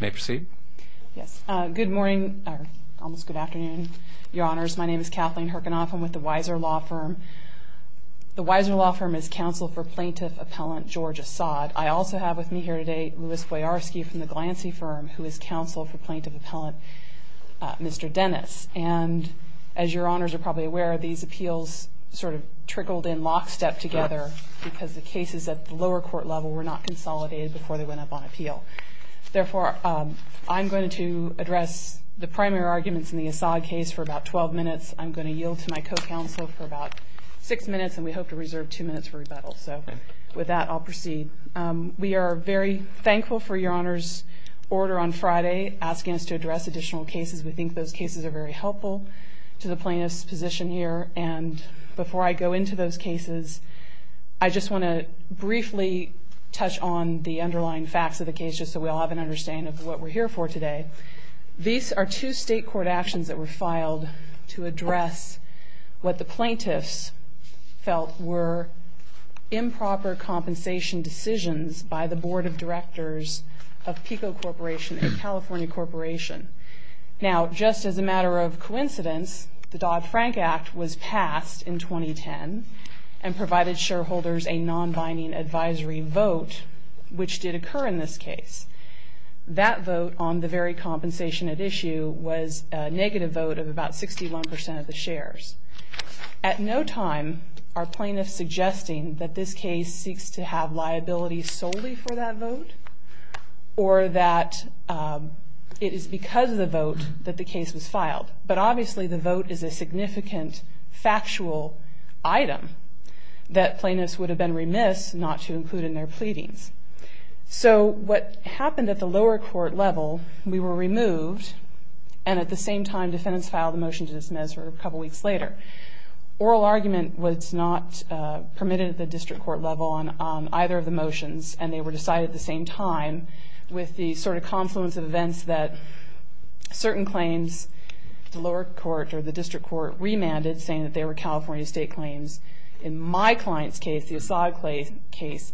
May proceed. Yes, good morning, or almost good afternoon, Your Honors. My name is Kathleen Herkenoff. I'm with the Weiser Law Firm. The Weiser Law Firm is counsel for plaintiff-appellant George Assad. I also have with me here today Louis Foyarski from the Glancy Firm, who is counsel for plaintiff-appellant Mr. Dennis. And as Your Honors are probably aware, these appeals sort of trickled in lockstep together because the cases at the lower court level were not consolidated before they went up on appeal. Therefore, I'm going to address the primary arguments in the Assad case for about 12 minutes. I'm going to yield to my co-counsel for about six minutes, and we hope to reserve two minutes for rebuttal. So with that, I'll proceed. We are very thankful for Your Honors' order on Friday asking us to address additional cases. We think those cases are very helpful to the plaintiff's position here. And before I go into those cases, I just want to briefly touch on the underlying facts of the case just so we all have an understanding of what we're here for today. These are two state court actions that were filed to address what the plaintiffs felt were improper compensation decisions by the board of directors of PICO Corporation, a California corporation. Now, just as a matter of coincidence, the Dodd-Frank Act was passed in 2010 and provided shareholders a non-binding advisory vote, which did occur in this case. That vote on the very compensation at issue was a negative vote of about 61% of the shares. At no time are plaintiffs suggesting that this case seeks to have liability solely for that vote or that it is because of the vote that the case was filed. But obviously the vote is a significant factual item that plaintiffs would have been remiss not to include in their pleadings. So what happened at the lower court level, we were on either of the motions and they were decided at the same time with the sort of confluence of events that certain claims, the lower court or the district court remanded saying that they were California state claims. In my client's case, the Assad case,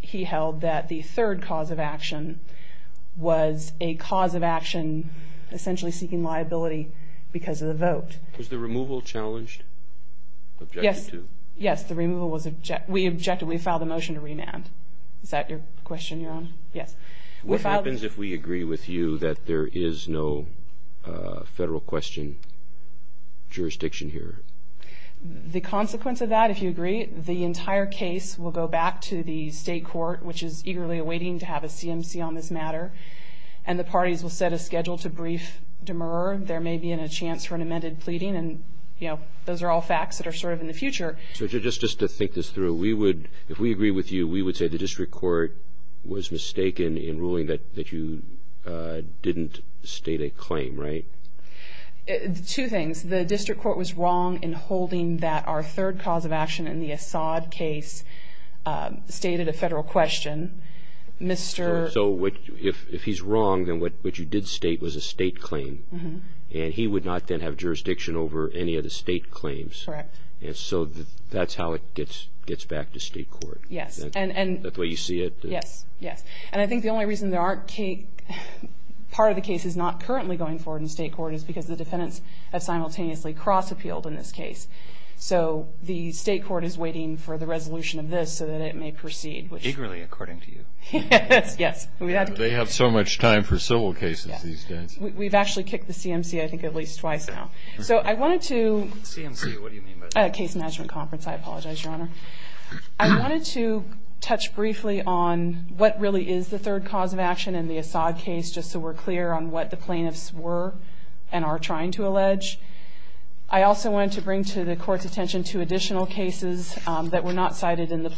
he held that the third cause of action was a cause of motion to remand. Is that your question, Your Honor? Yes. What happens if we agree with you that there is no federal question jurisdiction here? The consequence of that, if you agree, the entire case will go back to the state court, which is eagerly awaiting to have a CMC on this matter. And the parties will set a schedule to brief Demurrer. There may be a chance for an amended pleading. And those are all facts that are sort of in the future. So just to think this through, if we agree with you, we would say the district court was mistaken in ruling that you didn't state a claim, right? Two things. The district did state was a state claim. And he would not then have jurisdiction over any of the state claims. Correct. And so that's how it gets back to state court. Yes. And that's the way you see it? Yes. Yes. And I think the only reason there aren't, part of the case is not currently going forward in state court is because the defendants have simultaneously cross-appealed in this case. So the state court is waiting for the resolution of this so that it may proceed. Eagerly, according to you. Yes. They have so much time for civil cases these days. We've actually kicked the CMC, I think, at least twice now. So I wanted to... CMC, what do you mean by that? Case Management Conference. I apologize, Your Honor. I wanted to touch briefly on what really is the third cause of action in the Assad case, just so we're clear on what the plaintiffs were and are trying to allege. I also wanted to bring to the Court's attention two additional cases that were not cited in the third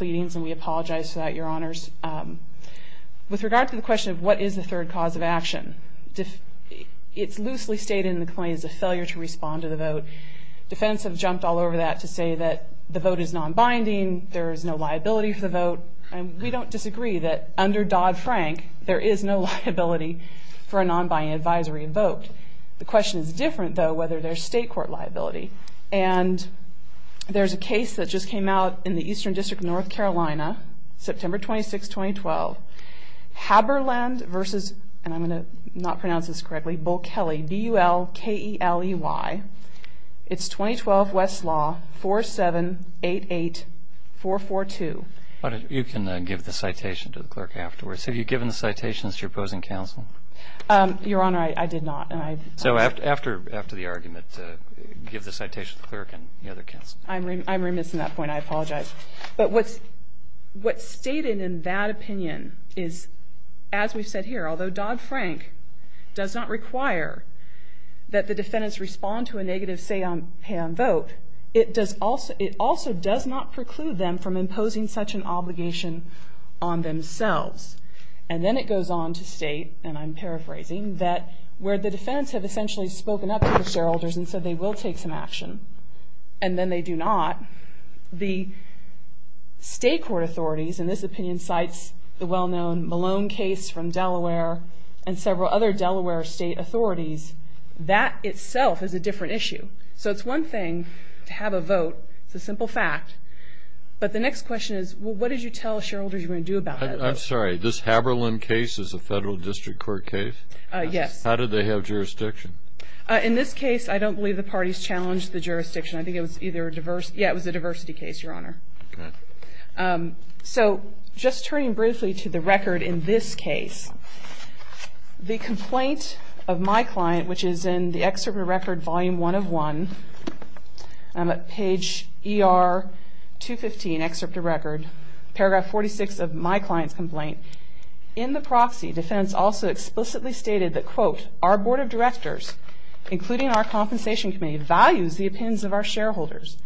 cause of action. It's loosely stated in the claim is a failure to respond to the vote. Defendants have jumped all over that to say that the vote is non-binding, there is no liability for the vote. And we don't disagree that under Dodd-Frank, there is no liability for a non-binding advisory vote. The question is different, though, whether there's state court liability. And there's a case that just came out in the Eastern District of North Carolina, September 26, 2012. Haberland versus, and I'm going to not pronounce this correctly, Bull-Kelly, B-U-L-K-E-L-E-Y. It's 2012 West Law, 4788442. You can give the citation to the clerk afterwards. Have you given the citations to your opposing counsel? Your Honor, I did not. So after the argument, give the citation to the clerk. And the argument in that opinion is, as we've said here, although Dodd-Frank does not require that the defendants respond to a negative say on pay on vote, it also does not preclude them from imposing such an obligation on themselves. And then it goes on to state, and I'm paraphrasing, that where the defendants have essentially spoken up to the shareholders and said they will take some action, and then they do not, the state court authorities, and this opinion cites the well-known Malone case from Delaware and several other Delaware state authorities, that itself is a different issue. So it's one thing to have a vote. It's a simple fact. But the next question is, well, what did you tell shareholders you were going to do about that? I'm sorry. This Haberland case is a federal district court case? Yes. How did they have jurisdiction? In this case, I don't believe the parties challenged the jurisdiction. I think it was either a diversity – yeah, it was a diversity case, Your Honor. So just turning briefly to the record in this case, the complaint of my client, which is in the excerpt of record volume 1 of 1, page ER 215, excerpt of record, paragraph 46 of my client's complaint, in the proxy, defendants also explicitly stated that, quote, our board of directors, including our compensation committee, value the opinions of our shareholders.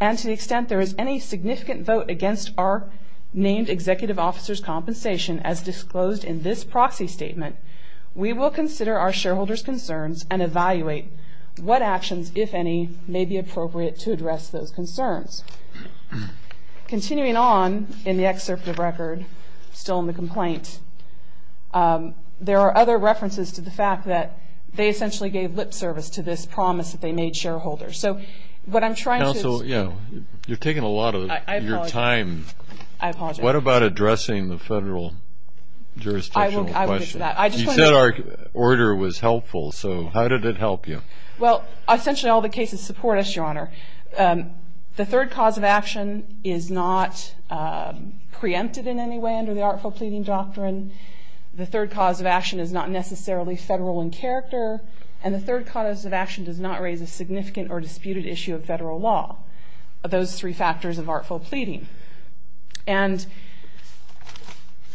And to the extent there is any significant vote against our named executive officer's compensation, as disclosed in this proxy statement, we will consider our shareholders' concerns and evaluate what actions, if any, may be appropriate to address those concerns. Continuing on in the excerpt of record, still in the complaint, there are other references to the fact that they essentially gave lip service to this case, and that's what I'm trying to – Counsel, you know, you're taking a lot of your time. I apologize. What about addressing the federal jurisdictional question? I will get to that. You said our order was helpful, so how did it help you? Well, essentially all the cases support us, Your Honor. The third cause of action is not preempted in any way under the artful pleading doctrine. The third cause of action is not necessarily federal in any way, but is a significant or disputed issue of federal law. Those three factors of artful pleading. And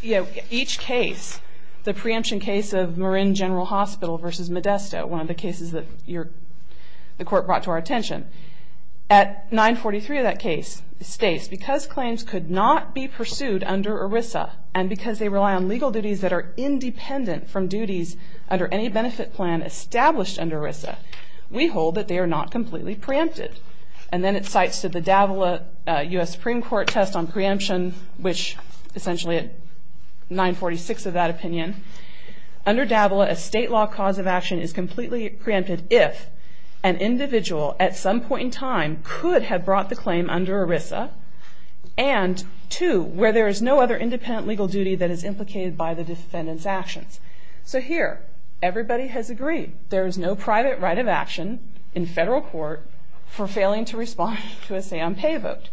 each case, the preemption case of Marin General Hospital versus Modesto, one of the cases that the Court brought to our attention, at 943 of that case states, because claims could not be pursued under ERISA and because they rely on legal duties that are independent from duties under any benefit plan established under ERISA, we hold that they are not completely preempted. And then it cites the Davila U.S. Supreme Court test on preemption, which essentially at 946 of that opinion, under Davila a state law cause of action is completely preempted if an individual at some point in time could have brought the claim under ERISA, and two, where there is no other independent legal duty that is implicated by the defendant's actions. So here, everybody has agreed. There is no private right of the federal court for failing to respond to a say-un-pay vote.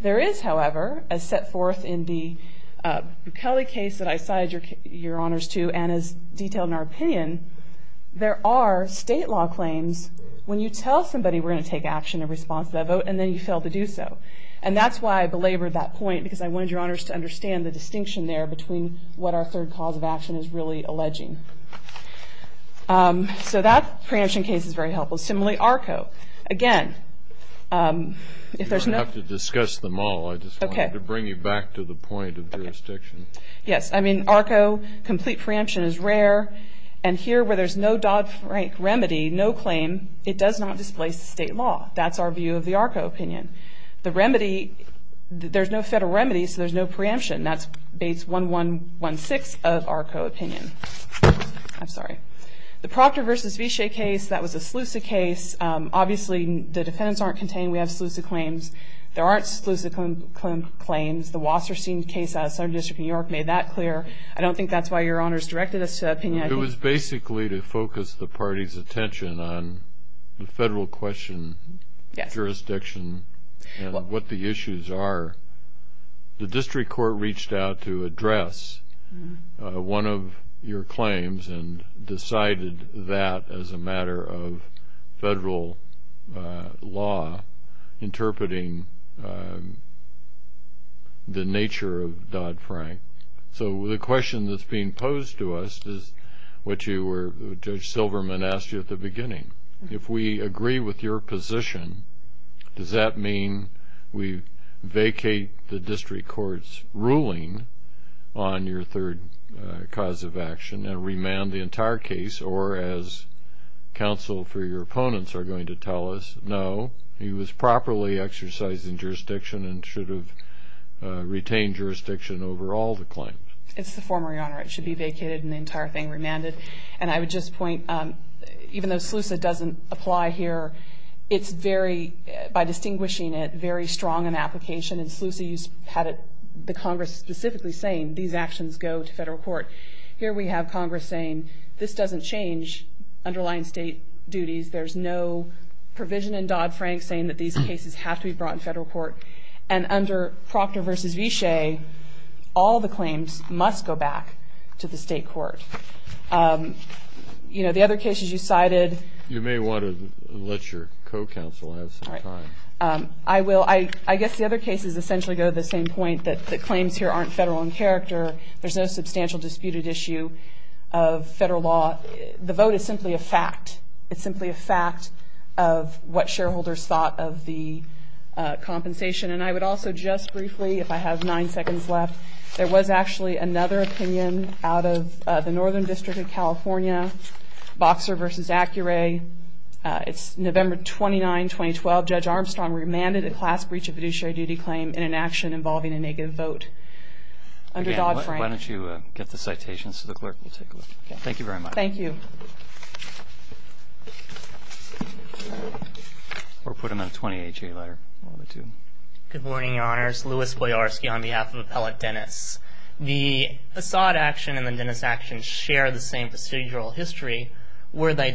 There is, however, as set forth in the Bukele case that I cited your honors to and as detailed in our opinion, there are state law claims when you tell somebody we're going to take action in response to that vote and then you fail to do so. And that's why I belabored that point, because I wanted your honors to understand the distinction there between what our third cause of action is and what the state law is really alleging. So that preemption case is very helpful. Similarly, ARCO. Again, if there's no ‑‑ You don't have to discuss them all. I just wanted to bring you back to the point of jurisdiction. Yes. I mean, ARCO, complete preemption is rare. And here, where there's no Dodd-Frank remedy, no claim, it does not displace the state law. That's our view of the ARCO opinion. The remedy ‑‑ there's no federal remedy, so there's no preemption. That's base 1116 of ARCO opinion. I'm sorry. The Proctor v. Vichey case, that was a Slusa case. Obviously, the defendants aren't contained. We have Slusa claims. There aren't Slusa claims. The Wasserstein case out of Southern District of New York made that clear. I don't think that's why your honors directed us to that opinion. It was basically to focus the party's attention on the federal question, jurisdiction, and what the issues are. The district court reached out to address one of your claims and decided that as a matter of federal law interpreting the nature of Dodd-Frank. So the question that's being posed to us is what Judge Silverman asked you at the beginning. If we agree with your position, does that mean we vacate the ruling on your third cause of action and remand the entire case? Or as counsel for your opponents are going to tell us, no, he was properly exercised in jurisdiction and should have retained jurisdiction over all the claims. It's the former, your honor. It should be vacated and the entire thing remanded. And I would just point, even though Slusa doesn't apply here, it's very, by distinguishing it, very strong in terms of specifically saying these actions go to federal court. Here we have Congress saying this doesn't change underlying state duties. There's no provision in Dodd-Frank saying that these cases have to be brought in federal court. And under Proctor v. Vichey, all the claims must go back to the state court. You know, the other cases you cited. You may want to let your co-counsel have some time. I will. I guess the other cases essentially go to the same point, that the claims here aren't federal in character. There's no substantial disputed issue of federal law. The vote is simply a fact. It's simply a fact of what shareholders thought of the compensation. And I would also just briefly, if I have nine seconds left, there was actually another opinion out of the Northern District of California, Boxer v. Accuray. It's November 29, 2012. Judge Armstrong remanded a class breach of fiduciary duty claim in an action involving a negative vote under Dodd-Frank. Again, why don't you get the citations to the clerk. We'll take a look. Thank you very much. Thank you. Or put them in a 28-J letter, one of the two. Good morning, Your Honors. Louis Boyarsky on behalf of Appellate Dennis. The Assad action and the Dennis action share the same procedural history. Where they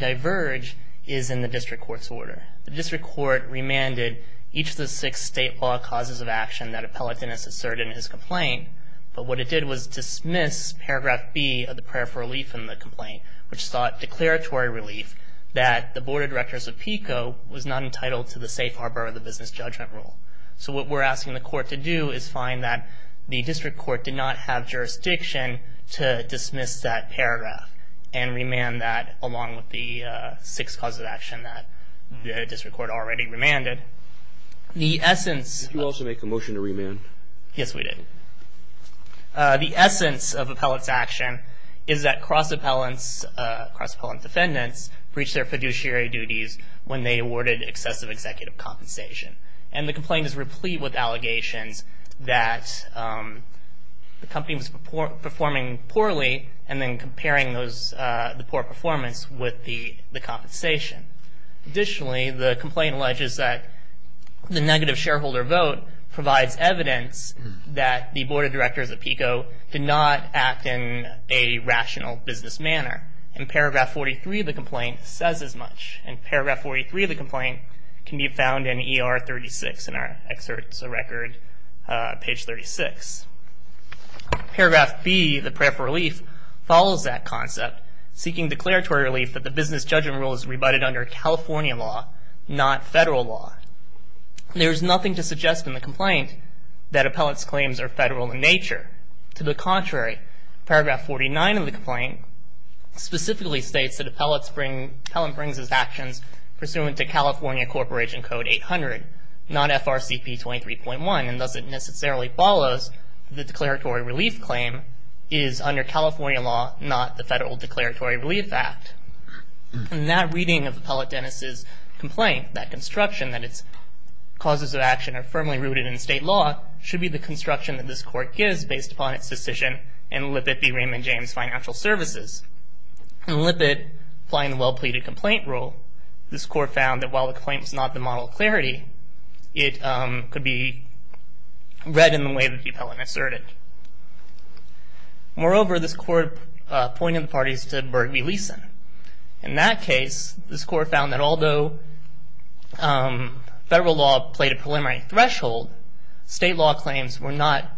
remanded each of the six state law causes of action that Appellate Dennis asserted in his complaint. But what it did was dismiss paragraph B of the prayer for relief in the complaint, which sought declaratory relief that the Board of Directors of PICO was not entitled to the safe harbor of the business judgment rule. So what we're asking the court to do is find that the district court did not have jurisdiction to dismiss that paragraph and remand that along with the six causes of action that the district court already remanded. Did you also make a motion to remand? Yes, we did. The essence of Appellate's action is that cross-appellant defendants breached their fiduciary duties when they awarded excessive executive compensation. And the complaint is replete with allegations that the company was performing poorly and then comparing the poor performance with the compensation. Additionally, the complaint alleges that the negative shareholder vote provides evidence that the Board of Directors of PICO did not act in a rational business manner. In paragraph 43 of the complaint, it says as much. And paragraph 43 of the complaint can be found in ER 36, in our excerpts of record, page 36. Paragraph B, the prayer for relief, follows that concept. It says that the Board of Directors of PICO seeking declaratory relief that the business judgment rule is rebutted under California law, not federal law. There is nothing to suggest in the complaint that Appellate's claims are federal in nature. To the contrary, paragraph 49 of the complaint specifically states that Appellant brings his actions pursuant to California Corporation Code 800, not FRCP 23.1. And thus it necessarily follows that the declaratory relief claim is under California law, not the Federal Declaratory Relief Act. And that reading of Appellate Dennis' complaint, that construction, that its causes of action are firmly rooted in state law, should be the construction that this court gives based upon its decision in Lippitt v. Raymond James Financial Services. In Lippitt, applying the well-pleaded complaint rule, this court found that while the complaint was not the model of clarity, it could be read in the way that Appellant asserted. Moreover, this court appointed the parties to Berg v. Leeson. In that case, this court found that although federal law played a preliminary threshold, state law claims were not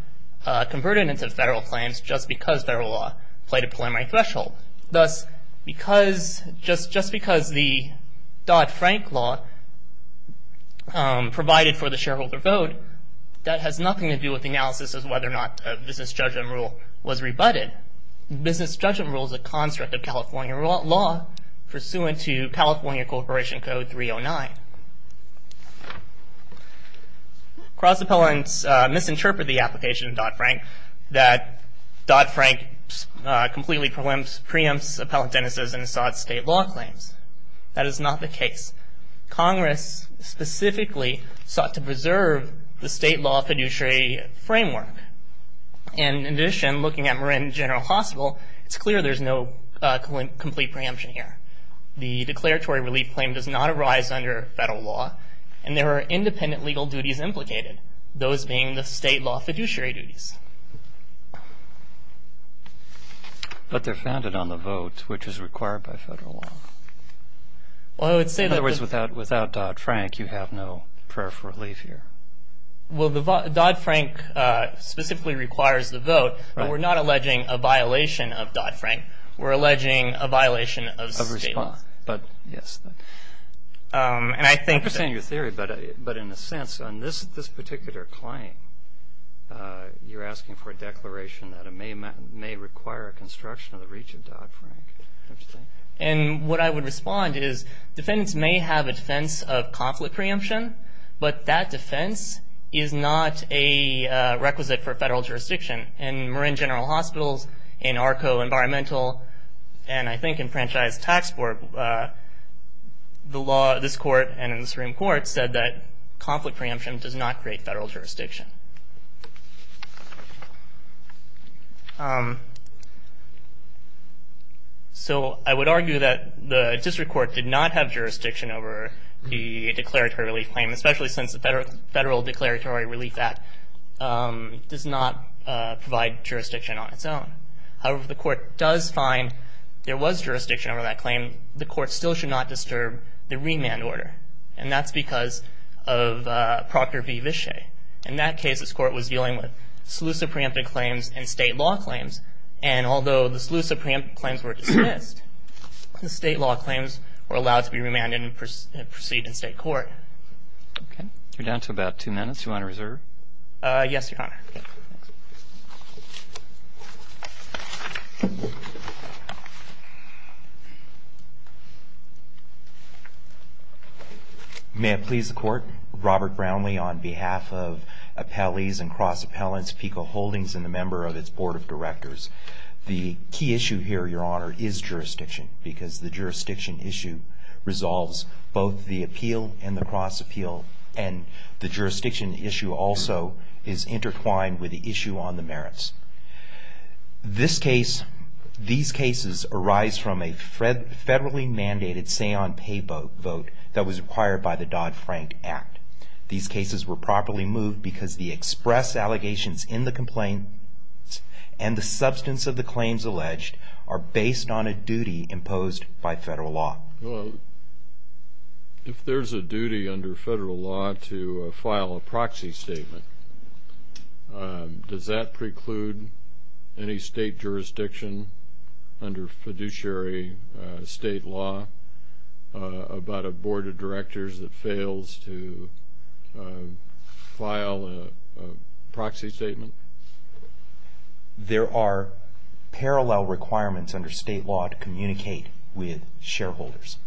converted into federal claims just because federal law played a preliminary threshold. Thus, just because the Dodd-Frank law provided for the sheriff's complaint, the state law claims were not converted into federal claims just because the sheriff's complaint was not converted into federal claims just because the sheriff's complaint was converted into federal claims just because the sheriff's complaint was converted into federal claims, that has nothing to do with the analysis of whether or not business judgment rule was rebutted. Business judgment rule is a construct of California law pursuant to California Corporation Code 309. Cross-Appellants misinterpret the application of Dodd-Frank that Dodd-Frank completely preempts Appellant Dennis' and Assad's state law claims. That is not the case. Congress specifically sought to preserve the state law fiduciary framework. And in addition, looking at Marin General Hospital, it's clear there's no complete preemption here. The declaratory relief claim does not arise under federal law, and there are independent legal duties implicated, those being the state law fiduciary duties. But they're founded on the vote, which is required by federal law. In other words, without Dodd-Frank, you have no prayer for relief here. Well, Dodd-Frank specifically requires the vote, but we're not alleging a violation of Dodd-Frank. We're alleging a violation of state law. But, yes. I understand your theory, but in a sense, on this particular claim, you're asking for a declaration that it may require a construction of the reach of Dodd-Frank, don't you think? And what I would respond is, defendants may have a defense of conflict preemption, but that defense is not a requisite for federal jurisdiction. In Marin General Hospitals, in ARCO Environmental, and I think in Franchise Tax Board, we have a defense of conflict preemption, but the law, this court, and in the Supreme Court, said that conflict preemption does not create federal jurisdiction. So, I would argue that the district court did not have jurisdiction over the declaratory relief claim, especially since the Federal Declaratory Relief Act does not provide jurisdiction on its own. However, if the court does find there was jurisdiction over that claim, the court still should not disturb the remand order, and that's because of Procter v. Vishay. In that case, this court was dealing with SELUSA preempted claims and state law claims, and although the SELUSA preempted claims were dismissed, the state law claims were allowed to be remanded and proceeded in state court. Okay. You're down to about two minutes. Do you want to reserve? Yes, Your Honor. May it please the Court, Robert Brownlee, on behalf of Appellees and Cross-Appellants, PICO Holdings, and the member of its Board of Directors, the key issue here, Your Honor, is jurisdiction, because the jurisdiction issue resolves both the appeal and the cross-appeal, and the jurisdiction issue also is intertwined with the issue on the merits. This case, these cases arise from a federally mandated say-on-pay vote that was required by the Dodd-Frank Act. These cases were properly moved because the expressed allegations in the complaint and the substance of the claims alleged are based on a duty imposed by federal law. Well, if there's a duty under federal law to file a proxy statement, does that preclude any state jurisdiction under fiduciary state law about a Board of Directors that fails to file a proxy statement? There are parallel requirements under state law to communicate with shareholders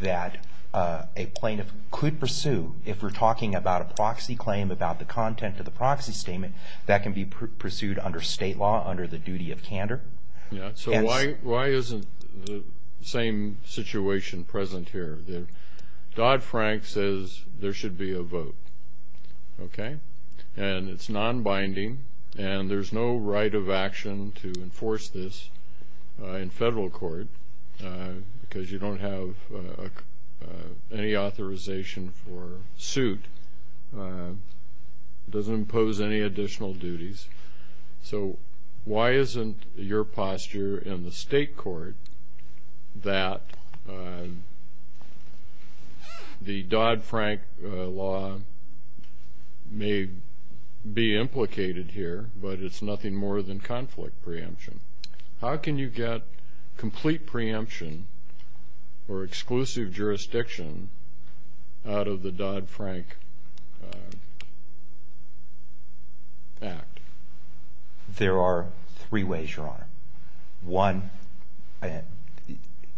that a plaintiff could pursue. If we're talking about a proxy claim, about the content of the proxy statement, that can be pursued under state law under the duty of fiduciary state law. It's the same situation present here. Dodd-Frank says there should be a vote, okay? And it's non-binding, and there's no right of action to enforce this in federal court, because you don't have any authorization for suit. It doesn't impose any additional duties. So why isn't your posture in the state court to enforce a duty of fiduciary state law that the Dodd-Frank law may be implicated here, but it's nothing more than conflict preemption? How can you get complete preemption or exclusive jurisdiction out of the Dodd-Frank Act? There are three ways, Your Honor. One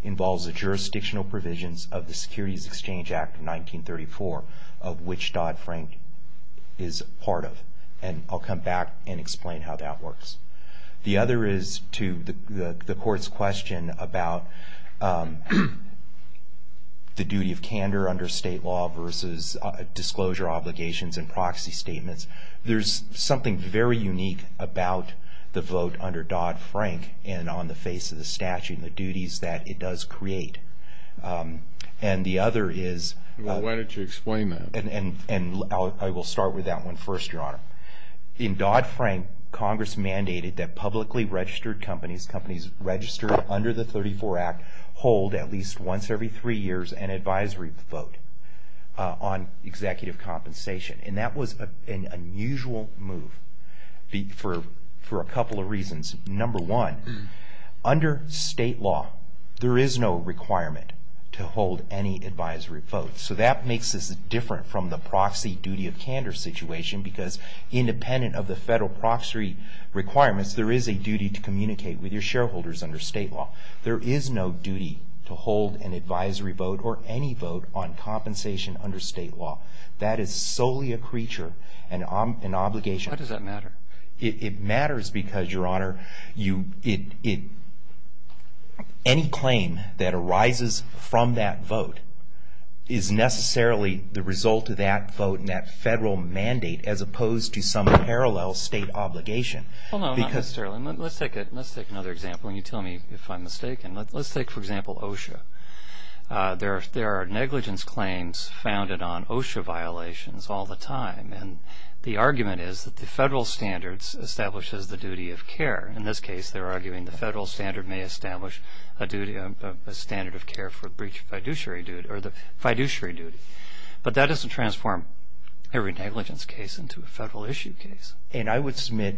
involves the jurisdictional provisions of the Securities Exchange Act of 1934, of which Dodd-Frank is part of. And I'll come back and explain how that works. The other is to the Court's question about the duty of candor under state law versus disclosure obligations and proxy statements. There's something very unique about the Dodd-Frank vote and on the face of the statute and the duties that it does create. And the other is... Well, why don't you explain that? And I will start with that one first, Your Honor. In Dodd-Frank, Congress mandated that publicly registered companies, companies registered under the 34 Act, hold at least once every three years an advisory vote on executive compensation. And that was an unusual move for a couple of reasons. Number one, under state law, there is no requirement to hold any advisory vote. So that makes this different from the proxy duty of candor situation because independent of the federal proxy requirements, there is a duty to communicate with your shareholders under state law. There is no duty to hold an advisory vote or any vote on executive compensation. There is an obligation. Why does that matter? It matters because, Your Honor, any claim that arises from that vote is necessarily the result of that vote and that federal mandate as opposed to some parallel state obligation. Well, no, not necessarily. Let's take another example. And you tell me if I'm mistaken. Let's take, for example, OSHA. There are negligence claims founded on OSHA violations all the time. And the argument is that OSHA is a violation of the federal mandate. And the argument is that the federal standards establishes the duty of care. In this case, they're arguing the federal standard may establish a duty, a standard of care for the breach of fiduciary duty. But that doesn't transform every negligence case into a federal issue case. And I would submit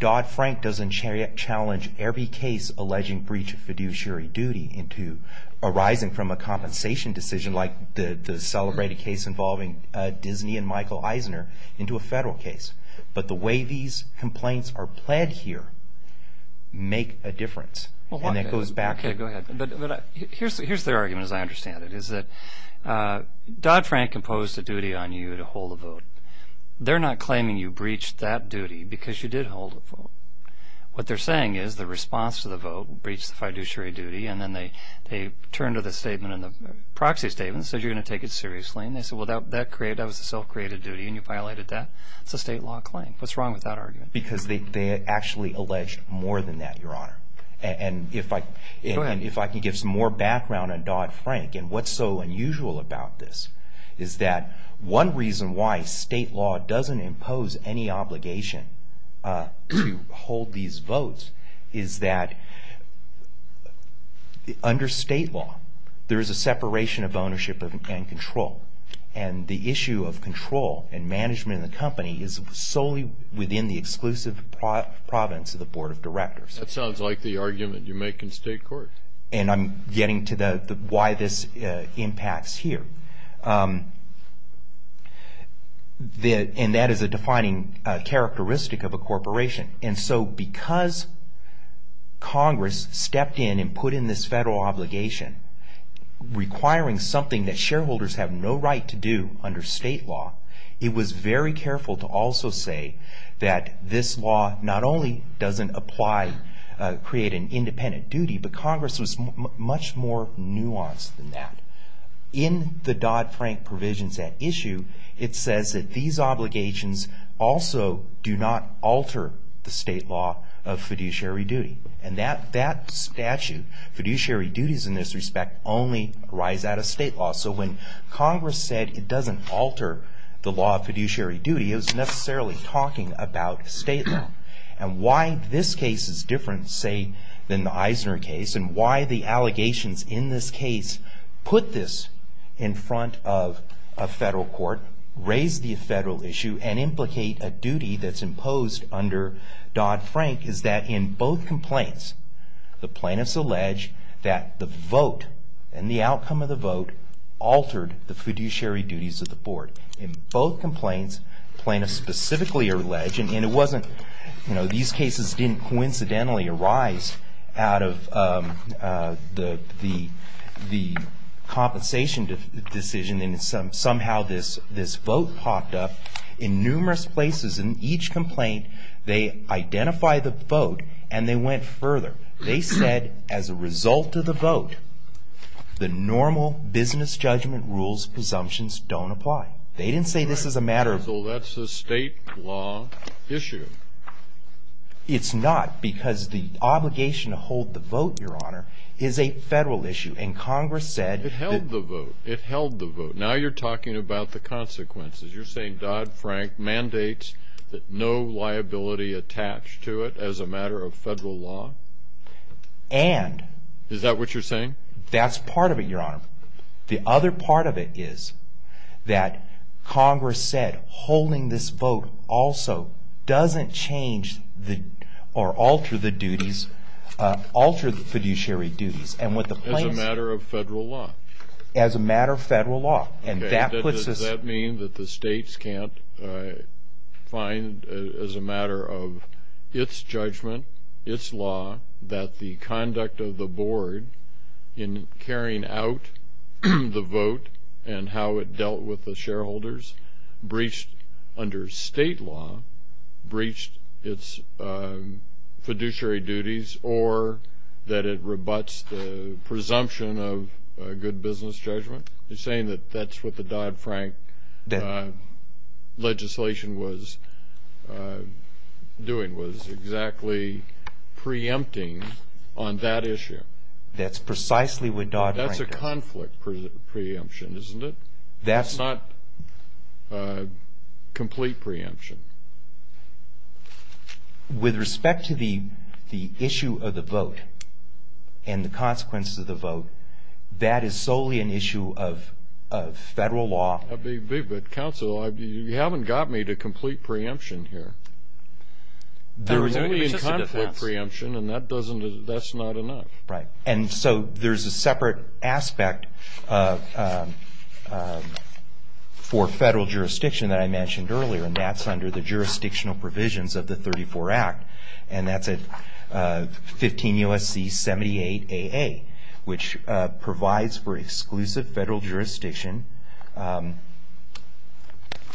Dodd-Frank doesn't challenge every case alleging breach of fiduciary duty into arising from a compensation decision like the celebrated case involving Disney and Michael Eisner into a federal case. But the way these complaints are pled here make a difference. And that goes back to... Okay, go ahead. But here's their argument, as I understand it, is that Dodd-Frank imposed a duty on you to hold a vote. They're not claiming you breached that duty because you did hold a vote. What they're saying is the response to the vote breached the proxy statement, said you're going to take it seriously. And they said, well, that was a self-created duty and you violated that. It's a state law claim. What's wrong with that argument? Because they actually allege more than that, Your Honor. And if I can give some more background on Dodd-Frank and what's so unusual about this is that one reason why state law doesn't impose any obligation to hold these votes is that under state law there is a separation of ownership and control. And the issue of control and management in the company is solely within the exclusive province of the Board of Directors. That sounds like the argument you make in state court. And I'm getting to why this impacts here. And that is a defining characteristic of a corporation. And so because Congress stepped in and put in this federal obligation requiring something that shareholders have no right to do under state law, it was very careful to also say that this law not only doesn't apply, create an independent duty, but Congress was much more nuanced than that. In the Dodd-Frank provisions at issue, it says that these obligations also do not alter the state law of fiduciary duty. And that statute, fiduciary duties in this respect, only arise out of state law. So when Congress said it doesn't alter the law of fiduciary duty, it was necessarily talking about state law. And why this case is different, say, than the Eisner case, and why the allegations in this case put this in front of a federal court, raise the federal issue, and implicate a duty that's different. In both complaints, the plaintiffs allege that the vote and the outcome of the vote altered the fiduciary duties of the board. In both complaints, plaintiffs specifically allege, and these cases didn't coincidentally arise out of the compensation decision, and somehow this vote popped up. In numerous places in each complaint, they identify the vote, and they went further. They said, as a result of the vote, the normal business judgment rules presumptions don't apply. They didn't say this is a matter of the state law issue. It's not, because the obligation to hold the vote, Your Honor, is a federal issue. And Congress said... It held the vote. Now you're talking about the consequences. You're saying Dodd-Frank mandates that no liability attached to it as a matter of federal law? Is that what you're saying? That's part of it, Your Honor. The other part of it is that Congress said holding this vote also doesn't change or alter the fiduciary duties. As a matter of good business judgment? You're saying that that's what the Dodd-Frank legislation says? That it's a matter of the state law? That's what the Dodd-Frank legislation was doing, was exactly preempting on that issue? That's precisely what Dodd-Frank did. That's a conflict preemption, isn't it? That's not complete preemption. With respect to the issue of the vote and the consequences of the vote, that is solely an issue of federal law. That would be a big bit, Counsel. You haven't got me to complete preemption here. There is only a conflict preemption, and that's not enough. Right. And so there's a separate aspect for federal jurisdiction that I mentioned earlier, and that's under the jurisdictional provisions of the 34 Act, and that's at 15 U.S.C. 78 A.A., which provides for exclusive federal jurisdiction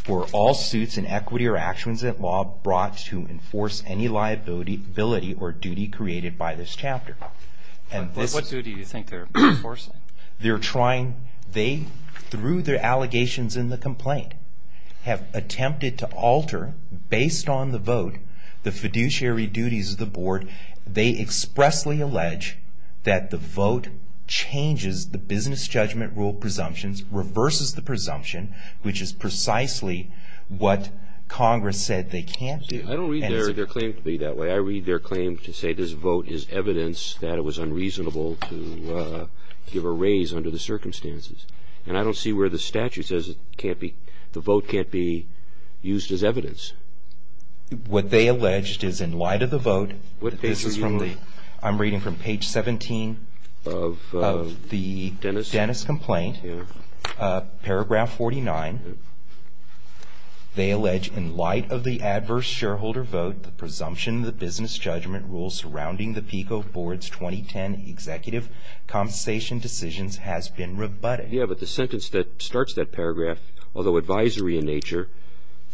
for all suits and executions of federal law. And this is a law that states that there are no actions or inequities or actions that law brought to enforce any liability or duty created by this chapter. What duty do you think they're enforcing? They're trying, they, through their allegations in the complaint, have attempted to alter, based on the vote, the fiduciary duties of the Board. They expressly allege that the vote changes the statute, and Congress said they can't do. I don't read their claim to be that way. I read their claim to say this vote is evidence that it was unreasonable to give a raise under the circumstances. And I don't see where the statute says it can't be, the vote can't be used as evidence. What they alleged is in light of the vote, this is from the, I'm reading from page 17 of the Dennis complaint, paragraph 49, they allege in light of the adverse shareholder vote, the presumption of the business judgment rule surrounding the PICO Board's 2010 executive compensation decisions has been rebutted. Yeah, but the sentence that starts that paragraph, although advisory in nature,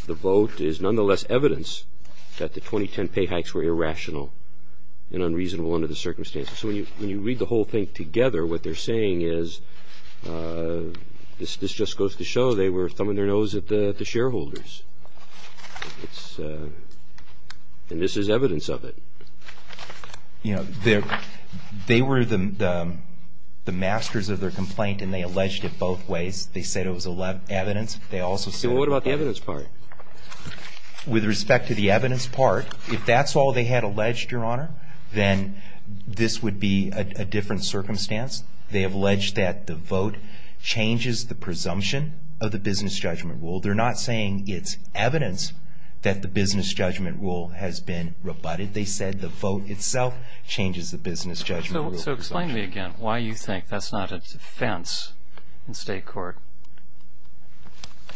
the vote is nonetheless evidence that the 2010 pay hikes were irrational and unreasonable under the circumstances. And this just goes to show they were thumbing their nose at the shareholders. And this is evidence of it. You know, they were the masters of their complaint, and they alleged it both ways. They said it was evidence. They also said it was evidence. So what about the evidence part? With respect to the evidence part, if that's all they had alleged, Your Honor, then this would be a different circumstance. They have alleged that the vote changed the statute, that the vote changed the presumption of the business judgment rule. They're not saying it's evidence that the business judgment rule has been rebutted. They said the vote itself changes the business judgment rule presumption. So explain to me again why you think that's not a defense in state court.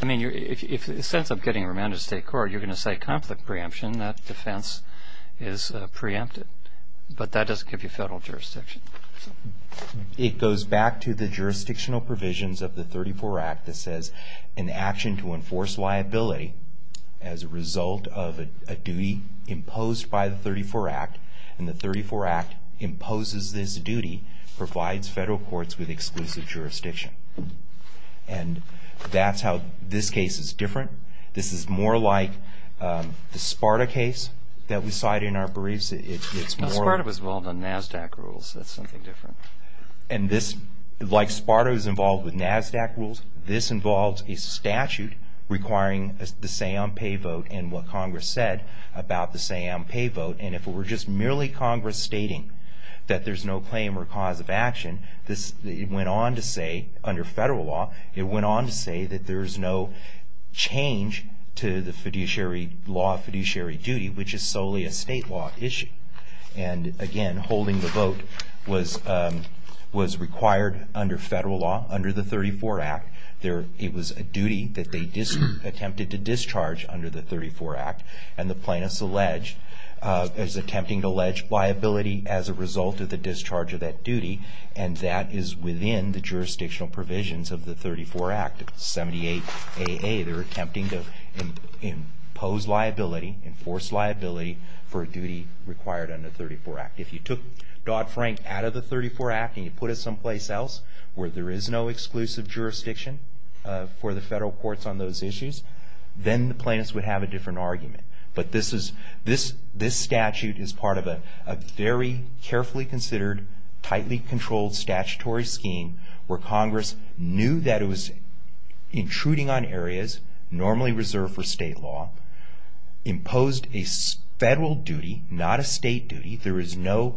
I mean, in the sense of getting remanded to state court, you're going to say conflict preemption. That defense is preempted. But that doesn't give you federal jurisdiction. It goes back to the jurisdictional provision of the 34 Act that says an action to enforce liability as a result of a duty imposed by the 34 Act, and the 34 Act imposes this duty, provides federal courts with exclusive jurisdiction. And that's how this case is different. This is more like the Sparta case that we cite in our briefs. It's more... Sparta is involved with NASDAQ rules. This involves a statute requiring the say-on-pay vote and what Congress said about the say-on-pay vote. And if it were just merely Congress stating that there's no claim or cause of action, it went on to say, under federal law, it went on to say that there's no change to the law of fiduciary duty, which is solely a state law issue. And again, holding the vote was required under federal law, under the 34 Act. It was a duty that they attempted to discharge under the 34 Act. And the plaintiff is attempting to allege liability as a result of the discharge of that duty. And that is within the jurisdictional provisions of the 34 Act, 78AA. They're attempting to impose liability, enforce liability for a duty required under the 34 Act. If you took Dodd-Frank out of the 34 Act and you put it someplace else where there is no exclusive jurisdiction for the federal courts on those issues, then the plaintiffs would have a different argument. But this statute is part of a very carefully considered, tightly controlled statutory scheme where Congress knew that it was intruding on areas normally reserved for state law, imposed a federal duty, not a state duty. There is no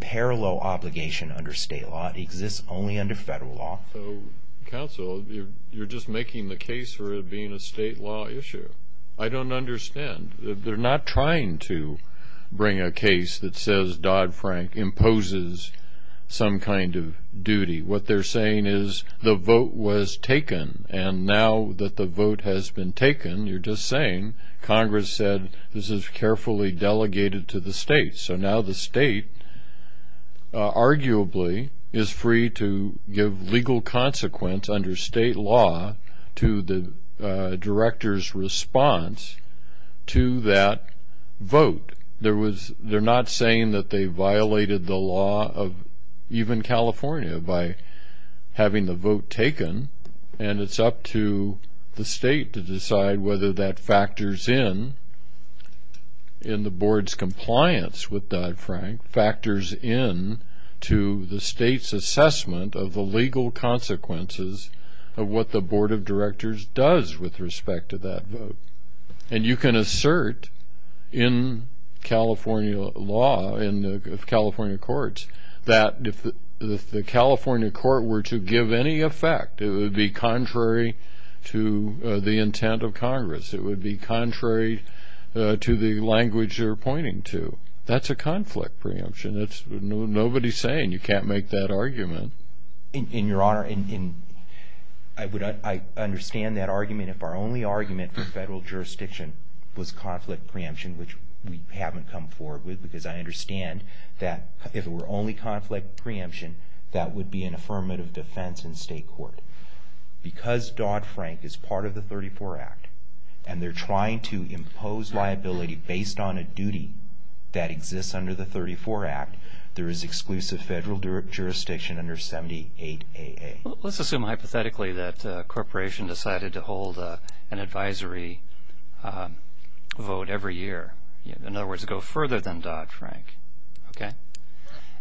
parallel obligation under state law. It exists only under federal law. So, counsel, you're just making the case for it being a state law issue. I don't understand. They're not trying to bring a case that says Dodd-Frank imposes some kind of duty. What they're saying is the vote was taken, and now that the vote has been taken, you're just saying Congress said, this is carefully delegated to the state. So now the state, arguably, is free to give legal consequence under state law to the director's response to that vote. They're not saying that they violated the law of even California by having the vote taken, and it's up to the state to decide whether or not that vote was taken. It's up to the state to decide whether that factors in in the board's compliance with Dodd-Frank, factors in to the state's assessment of the legal consequences of what the board of directors does with respect to that vote. And you can assert in California law, in the California courts, that if the California court were to give any effect, it would be contrary to the Congress. It would be contrary to the language they're pointing to. That's a conflict preemption. Nobody's saying you can't make that argument. I understand that argument. If our only argument for federal jurisdiction was conflict preemption, which we haven't come forward with, because I understand that if it were only conflict preemption, that would be an affirmative defense in state law. But if it were only conflict preemption, that would be an affirmative defense in state law. If the board of directors is trying to impose liability under the 34 Act, and they're trying to impose liability based on a duty that exists under the 34 Act, there is exclusive federal jurisdiction under 78AA. Let's assume hypothetically that a corporation decided to hold an advisory vote every year. In other words, go further than Dodd-Frank. Okay?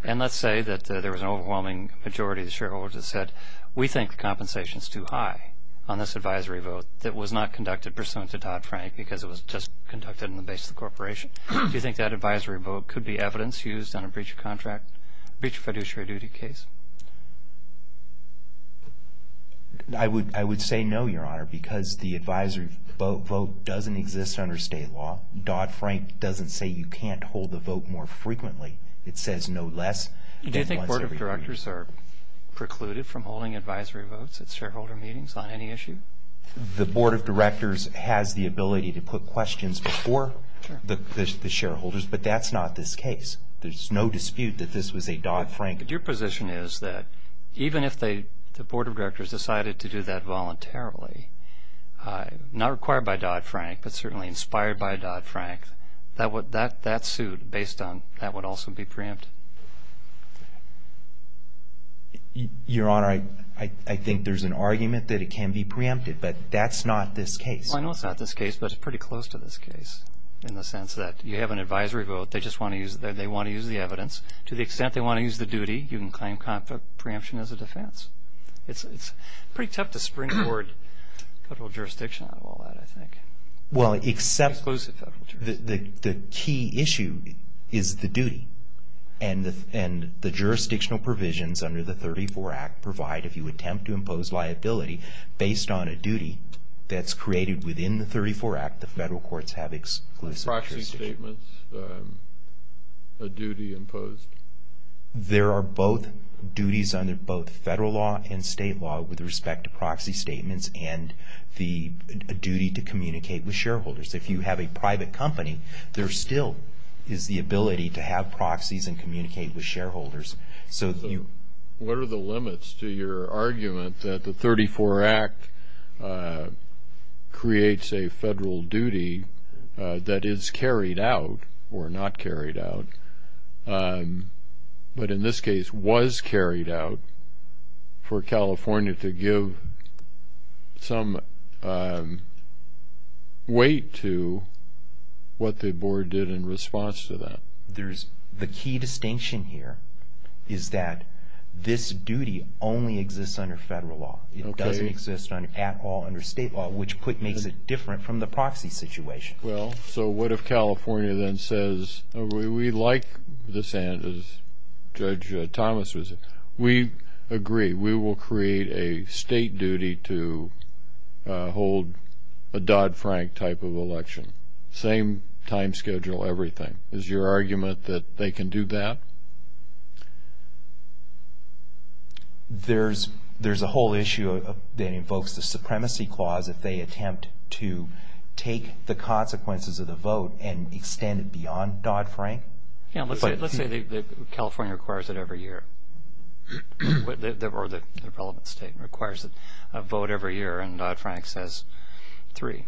And let's say that there was an overwhelming majority of the shareholders that said, we think the compensation is too high on this advisory vote that was not conducted pursuant to Dodd-Frank because it was just conducted in the base of the corporation. Do you think that advisory vote could be evidence used on a breach of contract, breach of fiduciary duty case? I would say no, Your Honor, because the advisory vote doesn't exist under state law. Dodd-Frank doesn't say you can't hold a vote more frequently. It says no less than once every three years. Do you think board of directors are precluded from holding advisory votes at shareholder meetings on any issue? The board of directors has the ability to put questions before the shareholders, but that's not this case. There's no dispute that this was a Dodd-Frank. But your position is that even if the board of directors decided to do that voluntarily, not required by Dodd-Frank, but certainly inspired by Dodd-Frank, that suit, based on that, would also be preempt. Your Honor, I think there's an argument that it can be preempted, but that's not this case. Well, I know it's not this case, but it's pretty close to this case in the sense that you have an advisory vote, they just want to use the evidence. To the extent they want to use the duty, you can claim preemption as a defense. It's pretty tough to spring forward federal jurisdiction on all that, I think. Exclusive federal jurisdiction. The key issue is the duty, and the jurisdictional provisions under the 34 Act provide, if you attempt to impose liability, based on a duty that's created within the 34 Act, the federal courts have exclusive jurisdiction. Proxy statements, a duty imposed. There are duties under both federal law and state law with respect to proxy statements and the duty to communicate with shareholders. If you have a private company, there still is the ability to have proxies and communicate with shareholders. What are the limits to your argument that the 34 Act creates a federal duty that is carried out, or not carried out, but in this case was carried out, for California to give some weight to that duty? There is no weight to what the board did in response to that. The key distinction here is that this duty only exists under federal law. It doesn't exist at all under state law, which makes it different from the proxy situation. Well, so what if California then says, we like this, as Judge Thomas was saying, we agree, we will create a state duty to hold a Dodd-Frank type of election? Same time schedule, everything. Is your argument that they can do that? There's a whole issue that invokes the supremacy clause if they attempt to take the consequences of the vote and extend it beyond Dodd-Frank. Let's say California requires it every year, or the relevant state requires a vote every year and Dodd-Frank says three.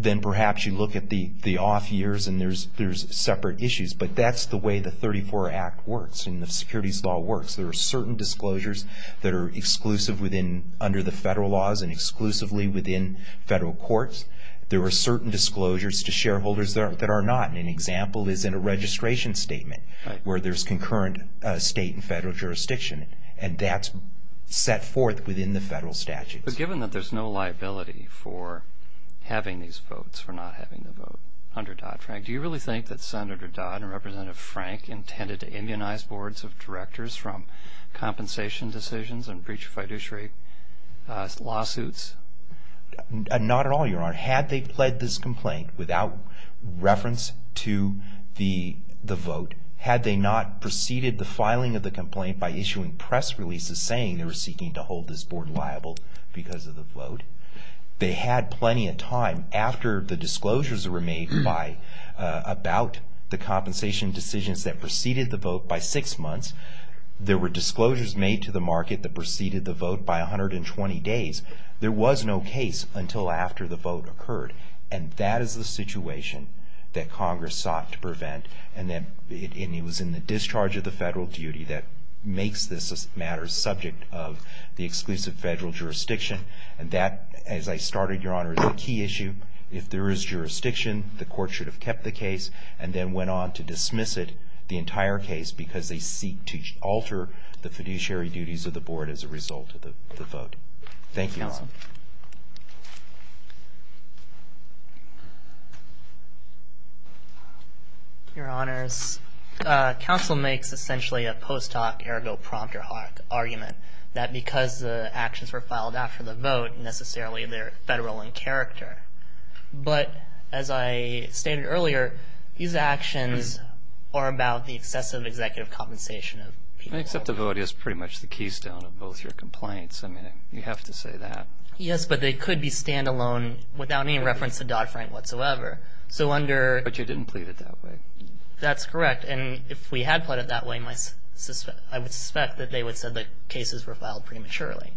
Then perhaps you look at the off years and there's separate issues, but that's the way the 34 Act works and the securities law works. There are certain disclosures that are exclusive under the federal laws and exclusively within federal courts. There are certain disclosures to shareholders that are not. An example is in a registration statement where there's concurrent state and federal jurisdiction and that's set forth within the federal statutes. Given that there's no liability for having these votes, for not having the vote under Dodd-Frank, do you really think that Senator Dodd and Representative Frank intended to immunize boards of directors from compensation decisions and breach of fiduciary lawsuits? Not at all, Your Honor. Had they pled this complaint without reference to the vote, had they not preceded the filing of the complaint by issuing press releases saying they were seeking to hold this board liable because of the vote, they had plenty of time. After the disclosures were made about the compensation decisions that preceded the vote by six months, there were disclosures made to the market that preceded the vote by 120 days. There was a lot of time in the process. There was no case until after the vote occurred and that is the situation that Congress sought to prevent and it was in the discharge of the federal duty that makes this matter subject of the exclusive federal jurisdiction and that, as I started, Your Honor, is a key issue. If there is jurisdiction, the court should have kept the case and then went on to dismiss it, the entire case, because they seek to alter the fiduciary duties of the board as a result of the vote. Thank you, Your Honor. Your Honors, counsel makes essentially a post hoc ergo prompter argument that because the actions were filed after the vote, necessarily they're federal in character, but as I stated earlier, these actions are about the excessive executive compensation of people. Except the vote is pretty much the keystone of both your complaints. I mean, you have to say that. Yes, but they could be standalone without any reference to Dodd-Frank whatsoever. But you didn't plead it that way. That's correct. And if we had pleaded that way, I would suspect that they would have said the cases were filed prematurely.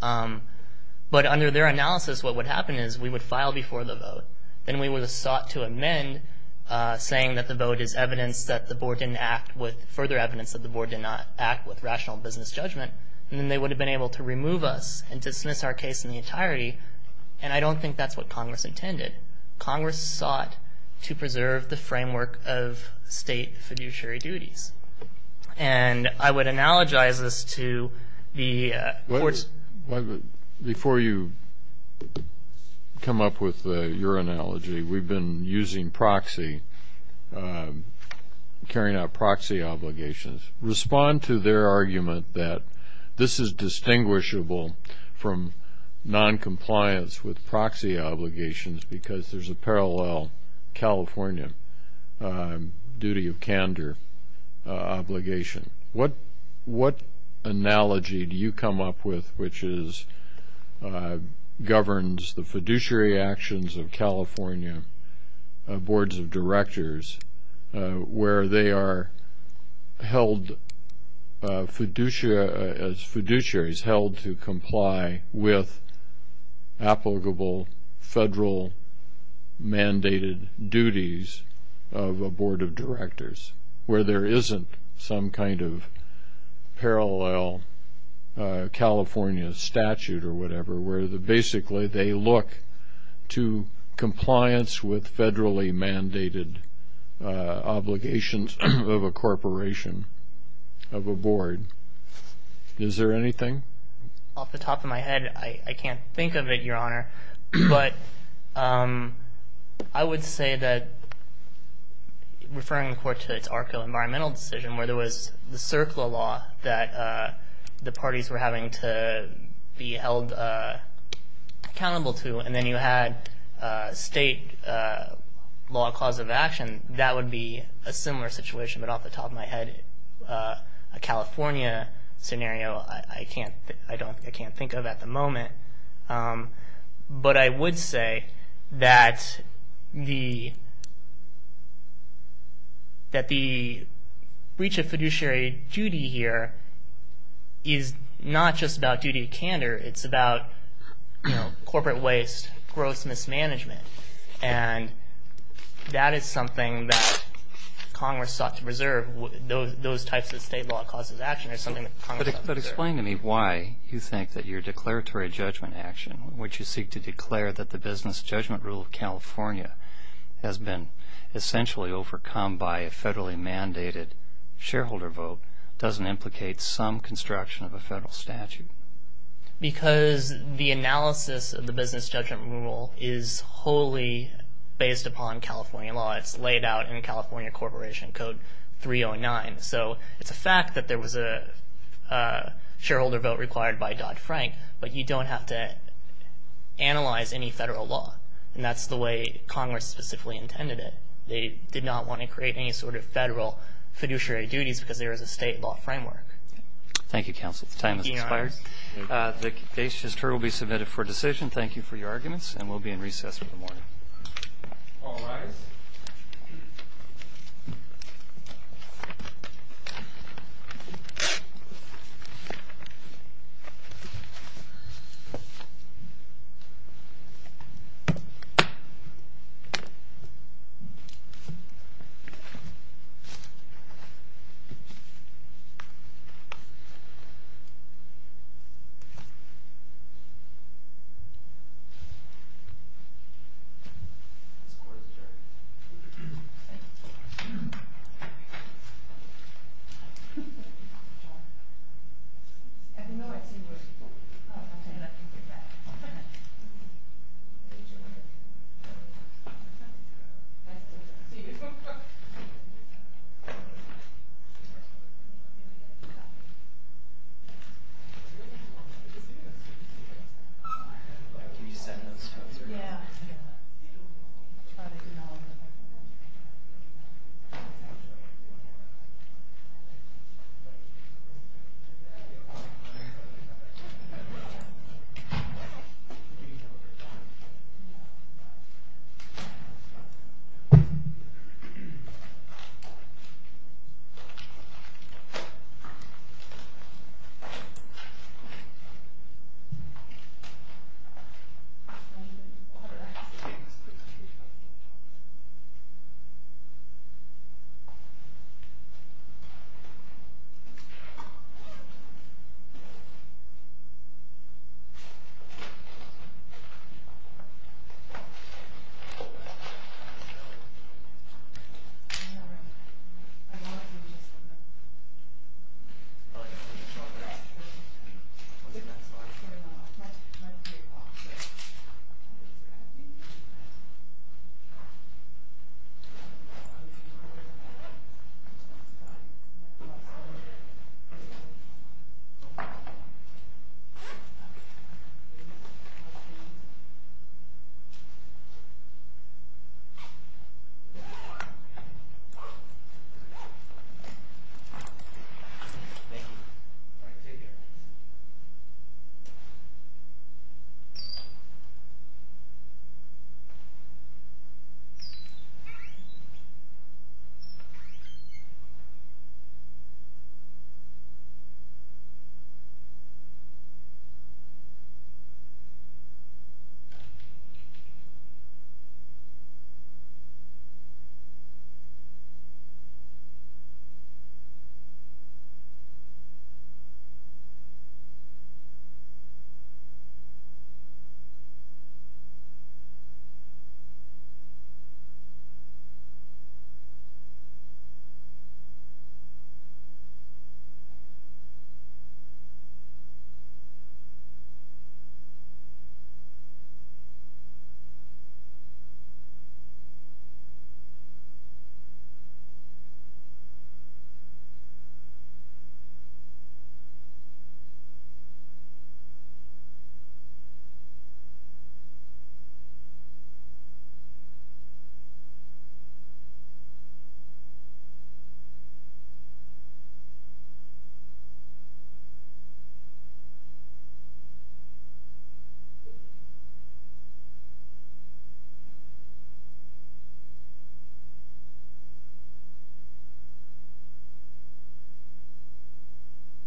But under their analysis, what would happen is we would file before the vote. Then we would have sought to amend saying that the vote is evidence that the board didn't act with, further evidence that the board did not act with rational business judgment. And then they would have been able to remove us and dismiss our case in the entirety. And I don't think that's what Congress intended. Congress sought to preserve the framework of state fiduciary duties. And I would analogize this to the courts. Before you come up with your analogy, we've been using proxy, carrying out proxy obligations. Respond to their argument that this is distinguishable from noncompliance with proxy obligations because there's a parallel California duty of candor obligation. What analogy do you come up with which governs the fiduciary actions of California boards of directors where they are held fiduciaries held to comply with applicable federal mandated duties of a board of directors where there isn't some kind of parallel California statute or whatever, where basically they look to compliance with federally mandated obligations of a corporation, of a board. Is there anything? Off the top of my head, I can't think of it, Your Honor. But I would say that referring the court to its ARCA environmental decision where there was the CERCLA law that the parties were having to be held accountable to and then you had state law cause of action, that would be a similar situation. But off the top of my head, a California scenario, I can't think of at the moment. But I would say that the reach of fiduciary duty here is not just about duty of candor, it's about corporate waste, gross mismanagement. And that is something that Congress sought to preserve, those types of state law cause of action. But explain to me why you think that your declaratory judgment action, which you seek to declare that the business judgment rule of California has been essentially overcome by a federally mandated shareholder vote, doesn't implicate some construction of a federal statute? The state judgment rule is wholly based upon California law. It's laid out in California Corporation Code 309. So it's a fact that there was a shareholder vote required by Dodd-Frank, but you don't have to analyze any federal law. And that's the way Congress specifically intended it. They did not want to create any sort of federal fiduciary duties because there is a state law framework. Thank you, counsel. The time has expired. The case just heard will be submitted for decision. Thank you for your arguments, and we'll be in recess for the morning. Thank you. Thank you. Thank you. Thank you. Thank you. Thank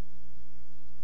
you. Thank you. Thank you.